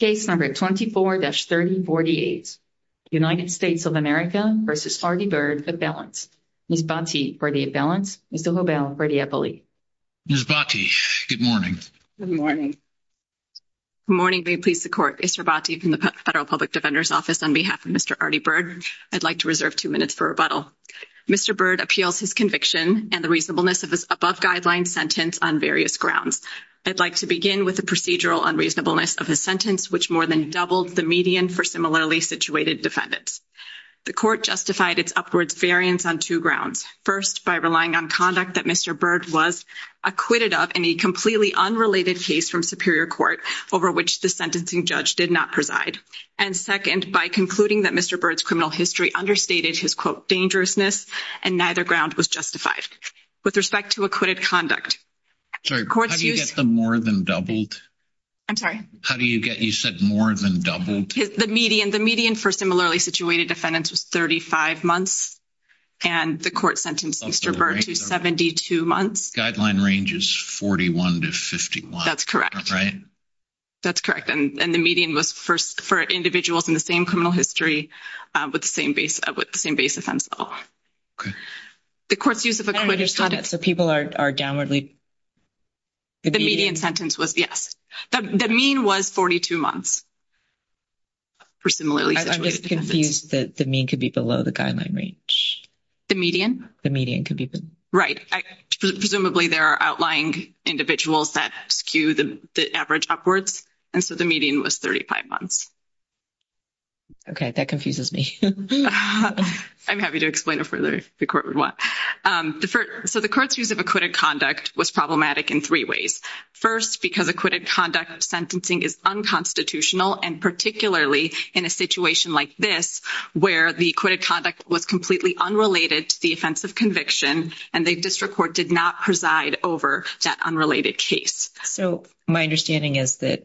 Case number 24-3048, United States of America v. Artie Byrd, at balance. Ms. Bhatti, for the at balance. Mr. Hobel, for the appellee. Ms. Bhatti, good morning. Good morning. Good morning. May it please the Court, Mr. Bhatti from the Federal Public Defender's Office, on behalf of Mr. Artie Byrd, I'd like to reserve two minutes for rebuttal. Mr. Byrd appeals his conviction and the reasonableness of his above-guideline sentence on various grounds. I'd like to begin with the procedural unreasonableness of his sentence, which more than doubled the median for similarly situated defendants. The Court justified its upwards variance on two grounds. First, by relying on conduct that Mr. Byrd was acquitted of in a completely unrelated case from Superior Court, over which the sentencing judge did not preside. And second, by concluding that Mr. Byrd's criminal history understated his, quote, dangerousness, and neither ground was justified. With respect to acquitted conduct. Sorry, how do you get the more than doubled? I'm sorry? How do you get, you said more than doubled? The median, the median for similarly situated defendants was 35 months and the court sentenced Mr. Byrd to 72 months. Guideline range is 41 to 51. That's correct. Right? That's correct. And the median was first for individuals in the same criminal history with the same base, with the same base offense level. Okay. The court's use of acquitted conduct. So people are, are downwardly. The median sentence was, yes. The mean was 42 months for similarly situated defendants. I'm just confused that the mean could be below the guideline range. The median? The median could be below. Right. Presumably there are outlying individuals that skew the average upwards. And so the median was 35 months. Okay. That confuses me. I'm happy to explain it further if the court would want. The first, so the court's use of acquitted conduct was problematic in three ways. First, because acquitted conduct sentencing is unconstitutional. And particularly in a situation like this, where the acquitted conduct was completely unrelated to the offense of conviction and the district court did not preside over that unrelated case. So my understanding is that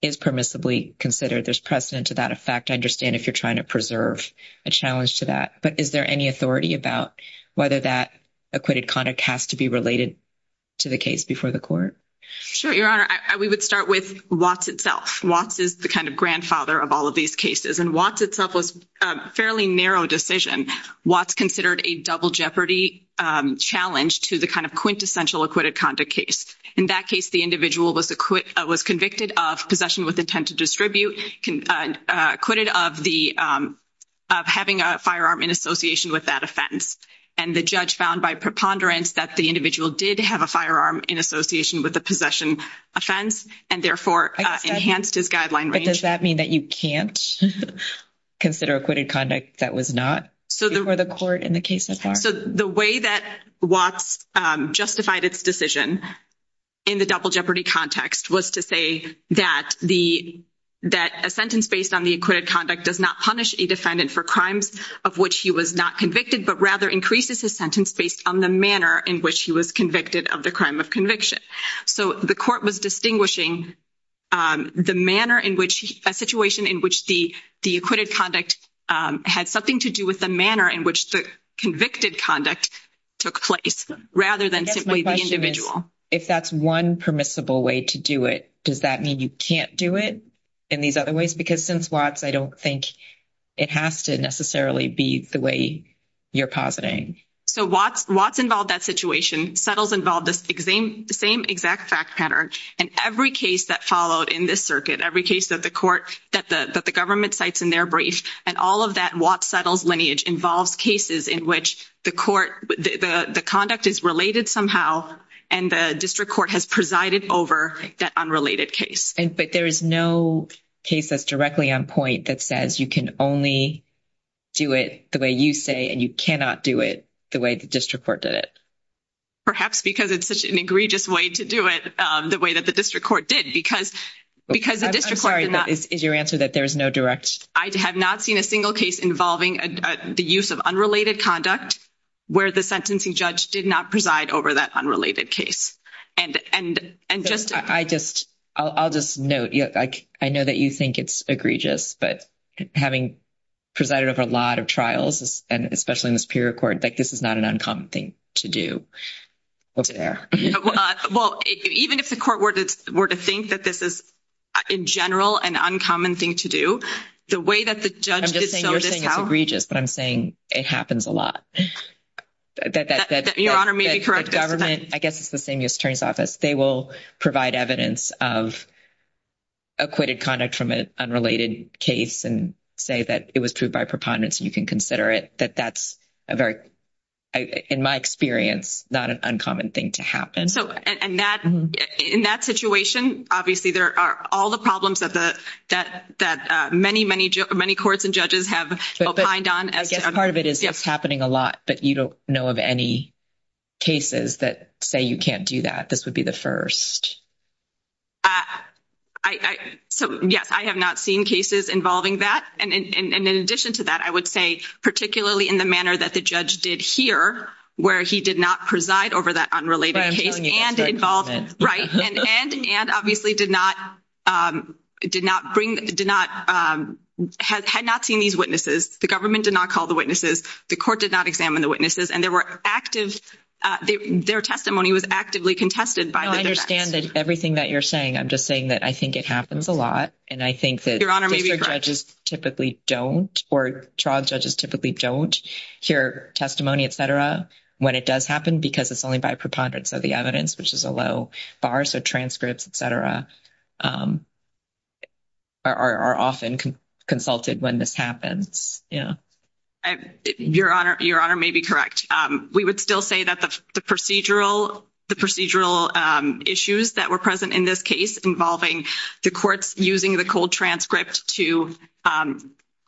is permissibly considered. There's precedent to that effect. I understand if you're trying to preserve a challenge to that, but is there any authority about whether that acquitted conduct has to be related to the case before the court? Sure, Your Honor. We would start with Watts itself. Watts is the kind of grandfather of all of these cases. And Watts itself was a fairly narrow decision. Watts considered a double jeopardy challenge to the kind of quintessential acquitted conduct case. In that case, the individual was convicted of possession with intent to distribute, acquitted of having a firearm in association with that offense. And the judge found by preponderance that the individual did have a firearm in association with the possession offense and therefore enhanced his guideline range. But does that mean that you can't consider acquitted conduct that was not before the court in the case so far? So the way that Watts justified its decision in the double jeopardy context was to say that a sentence based on the acquitted conduct does not punish a defendant for crimes of which he was not convicted, but rather increases his sentence based on the manner in which he was convicted of the crime of conviction. So the court was distinguishing a situation in which the acquitted conduct had something to do with the manner in which the convicted conduct took place rather than simply the individual. If that's one permissible way to do it, does that mean you can't do it in these other ways? Because since Watts, I don't think it has to necessarily be the way you're positing. So Watts involved that situation. Settles involved the same exact fact pattern in every case that circuit, every case that the government cites in their brief, and all of that Watts settles lineage involves cases in which the conduct is related somehow and the district court has presided over that unrelated case. But there is no case that's directly on point that says you can only do it the way you say and you cannot do it the way the district court did it. Perhaps because it's such an egregious way to do it the way that the district court did, because the district court did not. I'm sorry, is your answer that there's no direct? I have not seen a single case involving the use of unrelated conduct where the sentencing judge did not preside over that unrelated case. And just. I'll just note, I know that you think it's egregious, but having presided over a lot of trials, and especially in the superior court, that this is not an uncommon thing to do. What's there? Well, even if the court were to think that this is in general, an uncommon thing to do the way that the judge. I'm just saying you're saying it's egregious, but I'm saying it happens a lot. Your honor may be correct. Government, I guess it's the same U.S. Attorney's Office. They will provide evidence of acquitted conduct from an unrelated case and say that it was proved by preponderance. You consider it that that's a very. In my experience, not an uncommon thing to happen. So, and that in that situation, obviously, there are all the problems that the that that many, many, many courts and judges have opined on. As part of it is happening a lot, but you don't know of any. Cases that say you can't do that. This would be the 1st. I so, yes, I have not seen cases involving that. And in addition to that, I would say, particularly in the manner that the judge did here, where he did not preside over that unrelated case and involved. Right. And and obviously did not did not bring did not had had not seen these witnesses. The government did not call the witnesses. The court did not examine the witnesses and there were active their testimony was actively contested. I understand that everything that you're saying, I'm just saying that I think it happens a lot. And I think that your honor judges typically don't or trial judges typically don't hear testimony, et cetera, when it does happen, because it's only by preponderance of the evidence, which is a low bar. So transcripts, et cetera. Are often consulted when this happens. Yeah. Your honor, your honor may be correct. We would still say that the procedural, the procedural issues that were present in this case involving the courts using the cold transcript to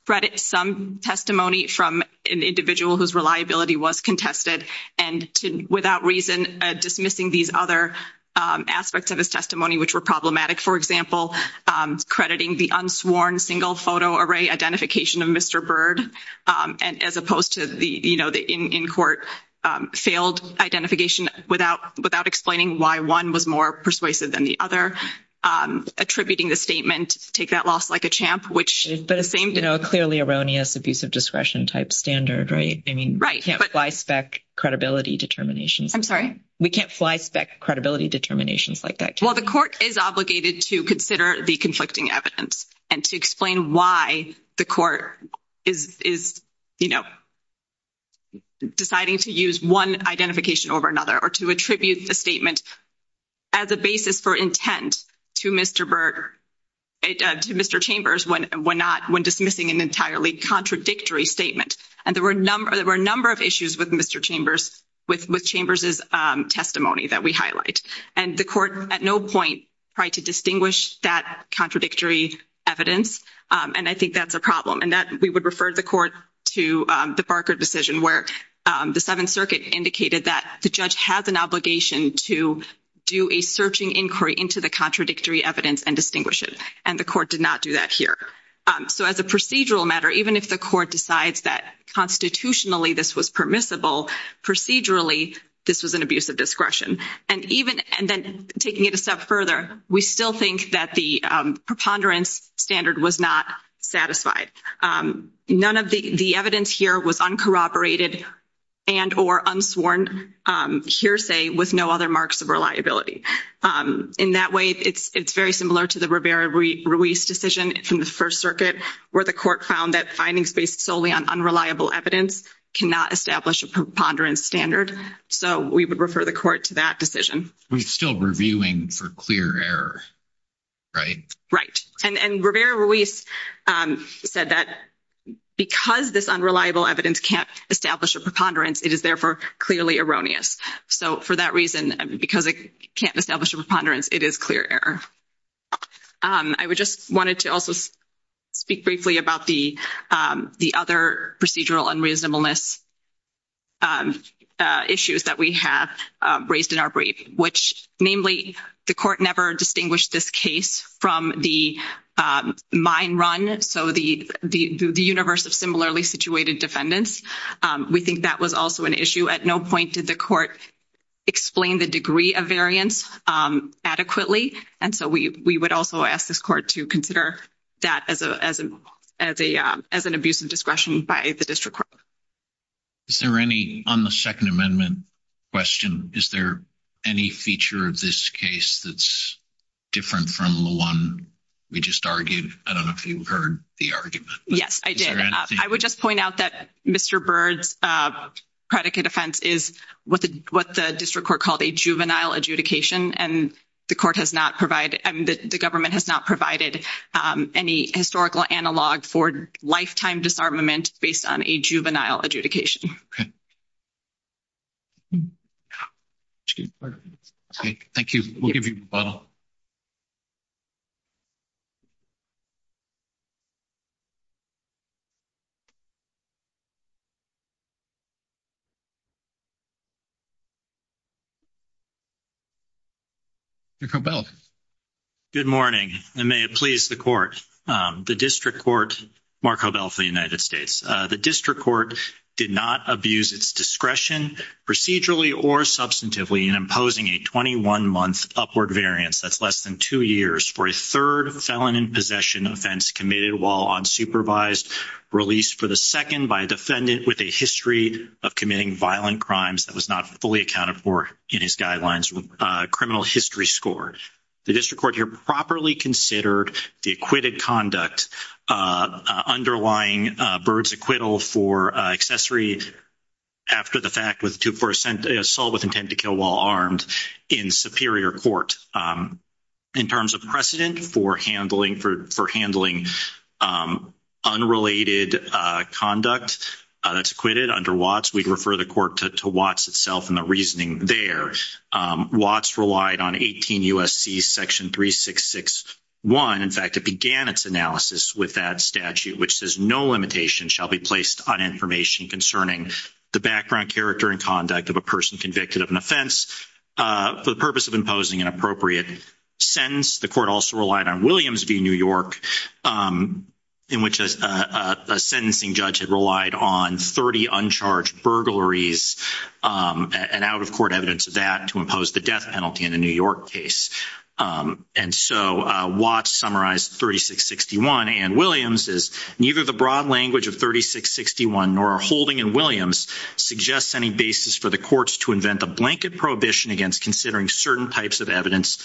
credit some testimony from an individual whose reliability was contested and without reason dismissing these other aspects of his testimony, which were problematic, for example, crediting the unsworn single photo array identification of Mr. Bird. And as opposed to the in court failed identification without without explaining why one was more persuasive than the other, attributing the statement to take that loss like a champ, which is the same, you know, clearly erroneous, abusive discretion type standard. Right. I mean, right. But why spec credibility determinations? I'm sorry. We can't fly spec credibility determinations like that. Well, the court is obligated to consider the conflicting evidence and to explain why the court is, is, you know. Deciding to use one identification over another or to attribute the statement. As a basis for intent to Mr. Bird. Mr. Chambers, when we're not when dismissing an entirely contradictory statement, and there were a number there were a number of issues with Mr. Chambers with with Chambers is testimony that we highlight and the court at no point to distinguish that contradictory evidence. And I think that's a problem and that we would refer the court to the Barker decision where the 7th Circuit indicated that the judge has an obligation to do a searching inquiry into the contradictory evidence and distinguish it. And the court did not do that here. So, as a procedural matter, even if the court decides that constitutionally, this was permissible procedurally, this was an abusive discretion and even and then taking it up further, we still think that the preponderance standard was not satisfied. None of the evidence here was uncorroborated and or unsworn hearsay with no other marks of reliability. In that way, it's very similar to the Rivera-Ruiz decision from the 1st Circuit where the court found that findings based solely on unreliable evidence cannot establish a preponderance standard. So, we would refer the court to that decision. We're still reviewing for clear error, right? Right. And Rivera-Ruiz said that because this unreliable evidence can't establish a preponderance, it is therefore clearly erroneous. So, for that reason, because it can't establish a preponderance, it is clear error. I would just wanted to also speak briefly about the other procedural unreasonableness issues that we have raised in our brief, which namely the court never distinguished this case from the mine run. So, the universe of similarly situated defendants, we think that was also an issue. At no point did the court explain the degree of variance adequately. And so, we would also ask this court to consider that as an abuse of discretion by the district court. Is there any, on the Second Amendment question, is there any feature of this case that's different from the one we just argued? I don't know if you've heard the argument. Yes, I did. I would just point out that Mr. Byrd's predicate offense is what the district court called a juvenile adjudication, and the government has not provided any historical analog for lifetime disarmament based on a juvenile adjudication. Okay. Thank you. We'll give you a moment. Marco Bell. Good morning, and may it please the court. The district court, Marco Bell for the United States. The district court did not abuse its discretion procedurally or substantively in imposing a 21-month upward variance, that's less than two years, for a third felon in possession offense committed while unsupervised, released for the second by a defendant with a history of committing violent crimes that was not fully accounted for in his guidelines criminal history score. The district court here properly considered the acquitted conduct underlying Byrd's acquittal for accessory after the fact with two percent assault with intent to kill while armed in superior court. In terms of precedent for handling unrelated conduct that's acquitted under Watts, we'd refer the court to Watts itself and the there. Watts relied on 18 U.S.C. section 3661. In fact, it began its analysis with that statute, which says no limitation shall be placed on information concerning the background character and conduct of a person convicted of an offense for the purpose of imposing an appropriate sentence. The court also relied on Williams v. New York, in which a sentencing judge had relied on 30 uncharged burglaries and out-of-court evidence of that to impose the death penalty in a New York case. And so, Watts summarized 3661 and Williams is, neither the broad language of 3661 nor our holding in Williams suggests any basis for the courts to invent the blanket prohibition against considering certain types of evidence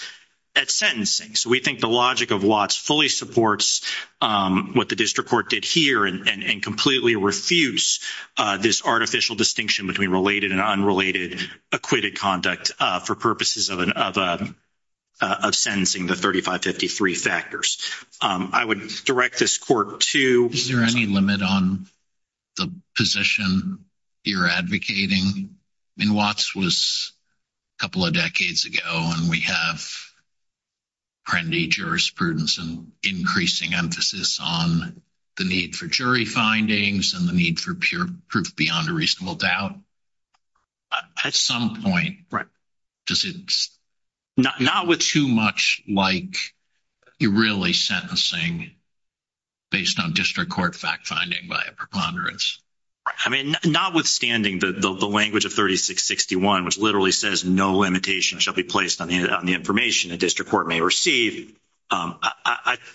at sentencing. So, we think the logic of Watts fully supports what the district court did here and completely refuse this artificial distinction between related and unrelated acquitted conduct for purposes of sentencing the 3553 factors. I would direct this court to... Is there any limit on the position you're advocating? I mean, Watts was a couple of decades ago and we have trendy jurisprudence and increasing emphasis on the need for jury findings and the need for pure proof beyond a reasonable doubt. At some point, does it not with too much like you're really sentencing based on district court fact-finding by a preponderance? I mean, notwithstanding the language of 3661, which literally says, no limitation shall be placed on the information the district court may receive,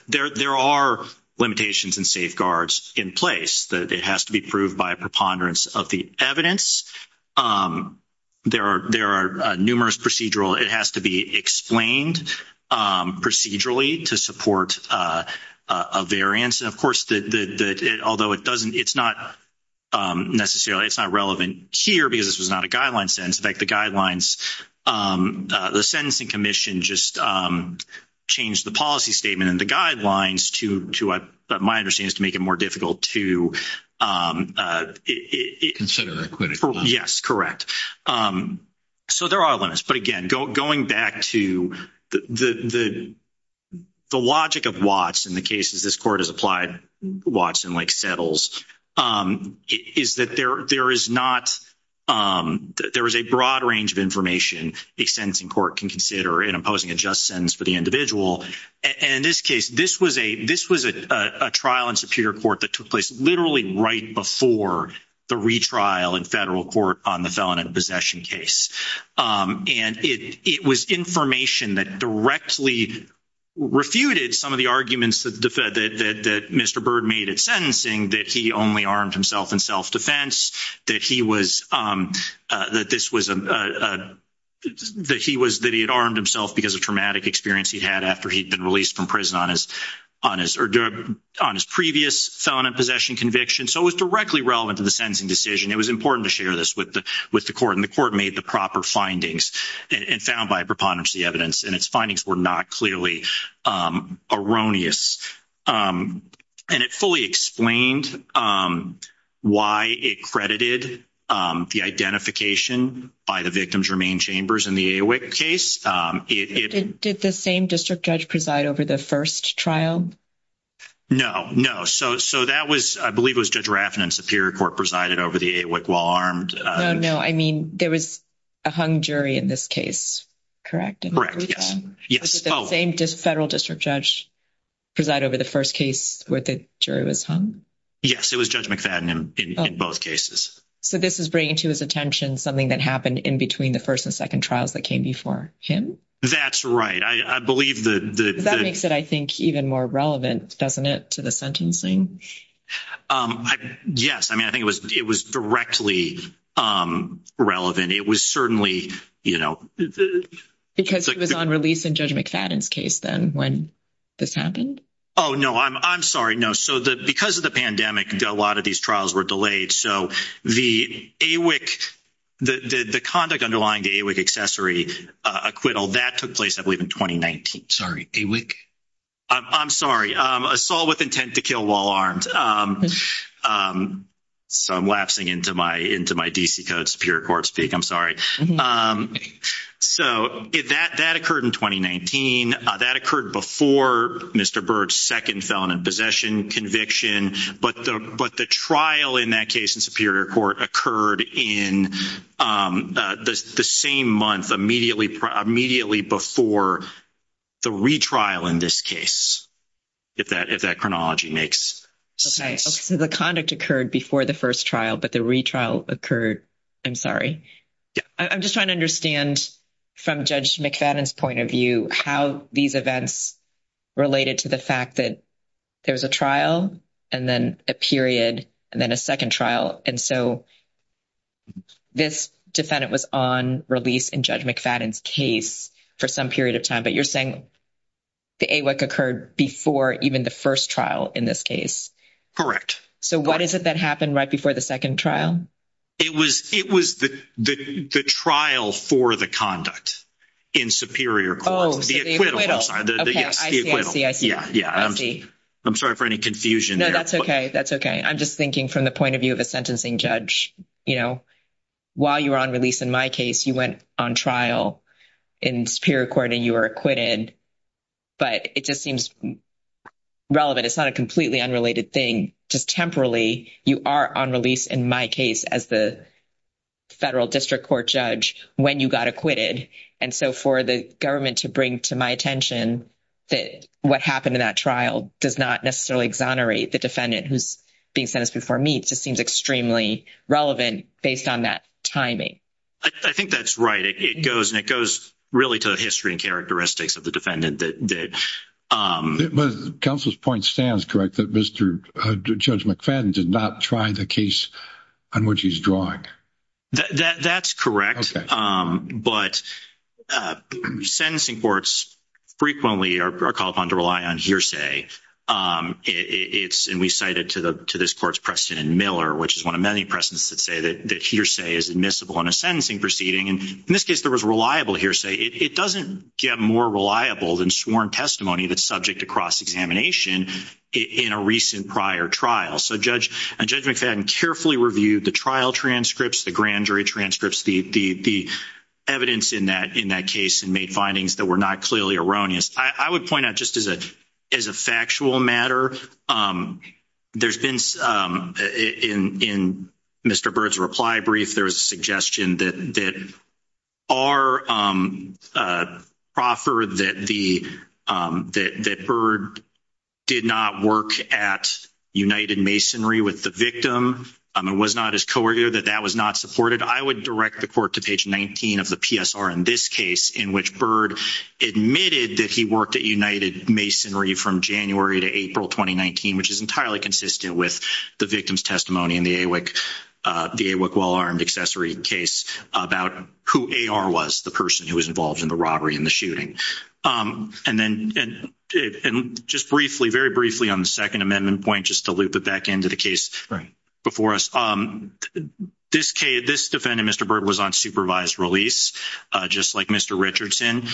there are limitations and safeguards in place that it has to be proved by a preponderance of the evidence. There are numerous procedural... It has to be explained procedurally to support a variance. And of course, although it doesn't... It's not necessarily... It's not relevant here because this was not a guideline sentence. In fact, the guidelines... The sentencing commission just changed the policy statement and the guidelines to what my understanding is to make it more difficult to... Consider acquittal. Yes, correct. So, there are limits. But again, going back to the logic of Watts in the cases this court has applied Watts and settles, is that there is not... There is a broad range of information a sentencing court can consider in imposing a just sentence for the individual. In this case, this was a trial in Superior Court that took place literally right before the retrial in federal court on the felon in possession case. And it was information that directly refuted some of the arguments that Mr. Byrd made at sentencing, that he only armed himself in self-defense, that he was... That this was... That he was... That he had armed himself because of traumatic experience he had after he'd been released from prison on his previous felon in possession conviction. So, it was directly relevant to the sentencing decision. It was important to share this with the court. And made the proper findings and found by preponderancy evidence. And its findings were not clearly erroneous. And it fully explained why it credited the identification by the victims remain chambers in the AWIC case. Did the same district judge preside over the first trial? No, no. So, that was... I believe it was Judge Raffin in Superior Court presided over the AWIC while armed. No, no. I mean, there was a hung jury in this case, correct? Correct, yes. Yes. Was it the same federal district judge preside over the first case where the jury was hung? Yes, it was Judge McFadden in both cases. So, this is bringing to his attention something that happened in between the first and second trials that came before him? That's right. I believe that... That makes it, I think, even more relevant, doesn't it, to the sentencing? Yes. I mean, I think it was directly relevant. It was certainly, you know... Because it was on release in Judge McFadden's case, then, when this happened? Oh, no. I'm sorry. No. So, because of the pandemic, a lot of these trials were delayed. So, the AWIC... The conduct underlying the AWIC accessory acquittal, that took place, I believe, in 2019. Sorry, AWIC? I'm sorry. Assault with Intent to Kill While Armed. So, I'm lapsing into my DC Code Superior Court speak. I'm sorry. So, that occurred in 2019. That occurred before Mr. Byrd's second felon in possession conviction. But the trial in that case in Superior Court occurred in the same month, immediately before the retrial in this case, if that chronology makes sense. The conduct occurred before the first trial, but the retrial occurred... I'm sorry. I'm just trying to understand, from Judge McFadden's point of view, how these events related to the fact that there was a trial, and then a period, and then a second trial. And so, this defendant was on release in Judge McFadden's case for some period of time. But you're saying the AWIC occurred before even the first trial in this case? Correct. So, what is it that happened right before the second trial? It was the trial for the conduct in Superior Court. Oh, so the acquittal. Yes, the acquittal. I see, I see. I'm sorry for any confusion there. No, that's okay. That's okay. I'm just thinking from the point of view of a judge, while you were on release in my case, you went on trial in Superior Court and you were acquitted. But it just seems relevant. It's not a completely unrelated thing. Just temporarily, you are on release in my case as the Federal District Court judge when you got acquitted. And so, for the government to bring to my attention that what happened in that trial does not necessarily exonerate the defendant who's being sentenced before me, it just seems extremely relevant based on that timing. I think that's right. It goes really to the history and characteristics of the defendant. But counsel's point stands, correct, that Judge McFadden did not try the case on which he's drawing? That's correct. But sentencing courts frequently are called upon to rely on hearsay. And we cited to this court's precedent Miller, which is one of many precedents that say that hearsay is admissible in a sentencing proceeding. And in this case, there was reliable hearsay. It doesn't get more reliable than sworn testimony that's subject to cross-examination in a recent prior trial. So, Judge McFadden carefully reviewed the trial transcripts, the grand jury transcripts, the evidence in that case and made findings that were not clearly erroneous. I would point out just as a factual matter, there's been, in Mr. Byrd's reply brief, there was a suggestion that our proffer that Byrd did not work at United Masonry with the victim. It was not as coercive that that was not supported. I would direct the court to page 19 of the PSR in this case in which Byrd admitted that he worked at United Masonry from January to April 2019, which is entirely consistent with the victim's testimony in the AWIC well-armed accessory case about who AR was, the person who was involved in the robbery and the shooting. And just briefly, very briefly on the Second Amendment point, just to loop it back into the case before us, this defendant, Mr. Byrd, was on supervised release just like Mr. Richardson.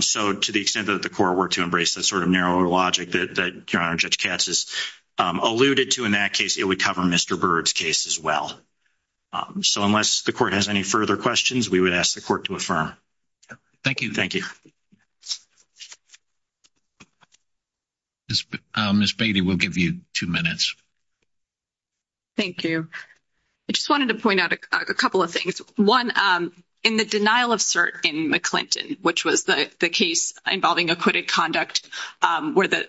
So, to the extent that the court were to embrace that sort of narrower logic that Your Honor, Judge Katz has alluded to in that case, it would cover Mr. Byrd's case as well. So, unless the court has any further questions, we would ask the court to affirm. Thank you. Thank you. Ms. Beatty, we'll give you two minutes. Thank you. I just wanted to point out a couple of things. One, in the denial of cert in McClinton, which was the case involving acquitted conduct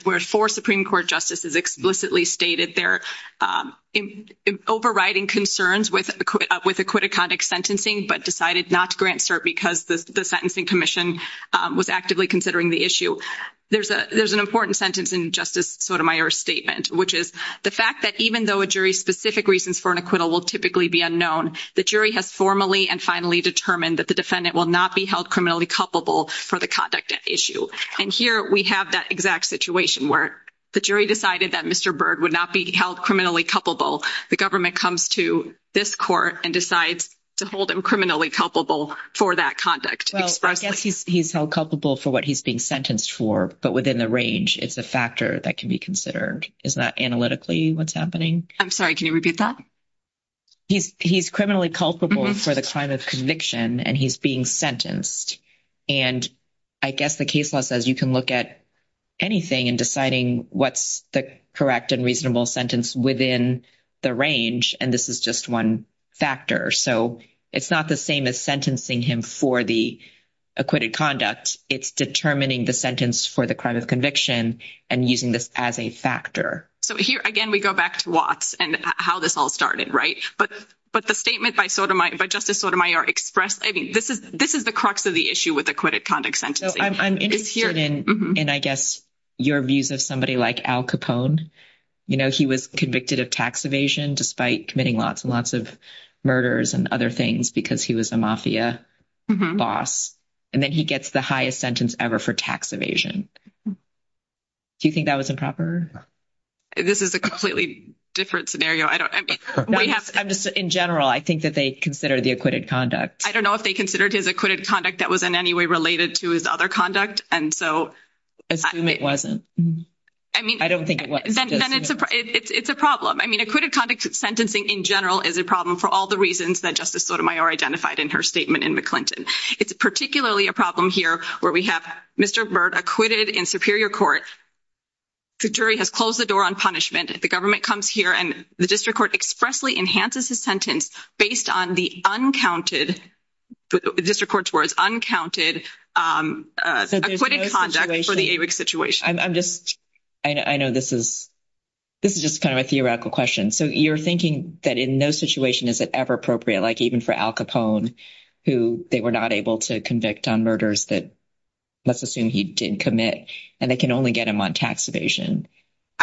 where four Supreme Court justices explicitly stated they're overriding concerns with acquitted conduct sentencing but decided not to grant cert because the sentencing commission was actively considering the issue. There's an important sentence in Justice Sotomayor's statement, which is the fact that even though a jury's specific reasons for an acquittal will typically be unknown, the jury has formally and finally determined that the defendant will not be held criminally culpable for the conduct at issue. And here, we have that exact situation where the jury decided that Mr. Byrd would not be held criminally culpable. The government comes to this court and decides to hold him criminally culpable for that conduct. He's held culpable for what he's being sentenced for, but within the range, it's a factor that can be considered. Isn't that analytically what's happening? I'm sorry, can you repeat that? He's criminally culpable for the crime of conviction, and he's being sentenced. And I guess the case law says you can look at anything in deciding what's the correct and reasonable sentence within the range, and this is just one factor. So, it's not the same as sentencing him for the acquitted conduct. It's determining the sentence for the crime of conviction and using this as a factor. So, here, again, we go back to Watts and how this all started, right? But the statement by Justice Sotomayor expressed, I mean, this is the crux of the issue with acquitted conduct sentencing. I'm interested in, I guess, your views of somebody like Al Capone. He was convicted of tax evasion despite committing lots and lots of murders and other things because he was a mafia boss, and then he gets the highest sentence ever for tax evasion. Do you think that was improper? This is a completely different scenario. In general, I think that they consider the acquitted conduct. I don't know if they considered his acquitted conduct that was in any way related to his other conduct. I assume it wasn't. I don't think it was. Then it's a problem. I mean, acquitted conduct sentencing in general is a problem for all the reasons that Justice Sotomayor identified in her statement in McClinton. It's particularly a problem here where we have Mr. Byrd acquitted in superior court. The jury has closed the door on punishment. The government comes here, and the district court expressly enhances his sentence based on the uncounted, district court's words, uncounted acquitted conduct for the AWICS situation. I'm just, I know this is, this is just kind of a theoretical question. So, you're thinking that in no situation is it ever appropriate, like even for Al Capone, who they were not able to convict on murders that, let's assume he didn't commit, and they can only get him on tax evasion.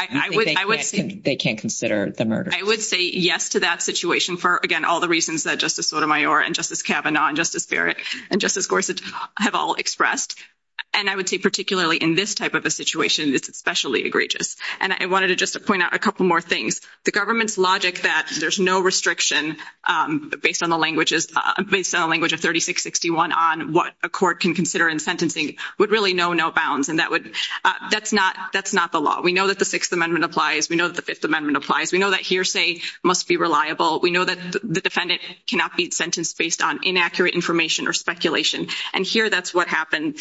I would say they can't consider the murder. I would say yes to that situation for, again, all the reasons that Justice Sotomayor and Justice Kavanaugh and Justice Barrett and Justice Gorsuch have all expressed. And I would say particularly in this type of a situation, it's especially egregious. And I wanted to just point out a couple more things. The government's logic that there's no restriction based on the languages, based on the language of 3661 on what a court can consider in sentencing would really know no bounds. And that would, that's not, that's not the law. We know that the Sixth Amendment applies. We know the Fifth Amendment applies. We know that hearsay must be reliable. We know that the defendant cannot be sentenced based on inaccurate information or speculation. And here that's what happened.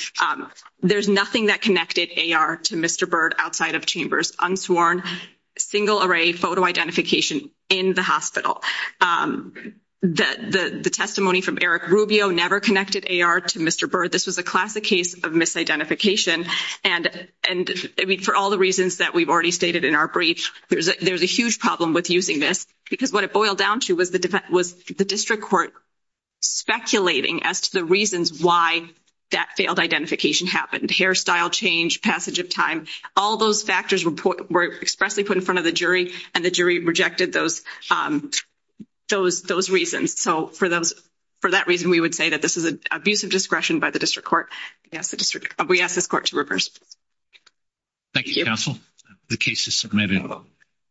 There's nothing that connected AR to Mr. Byrd outside of chambers, unsworn, single array photo identification in the hospital. The testimony from Eric Rubio never connected AR to Mr. Byrd. This was a classic case of misidentification. And for all the reasons that we've already stated in our brief, there's a huge problem with using this, because what it boiled down to was the district court speculating as to the reasons why that failed identification happened. Hairstyle change, passage of time, all those factors were expressly put in front of the jury, and the jury rejected those reasons. So for that reason, we would say that this is an abuse of discretion by the district court. We ask this court to reverse. Thank you, counsel. The case is submitted.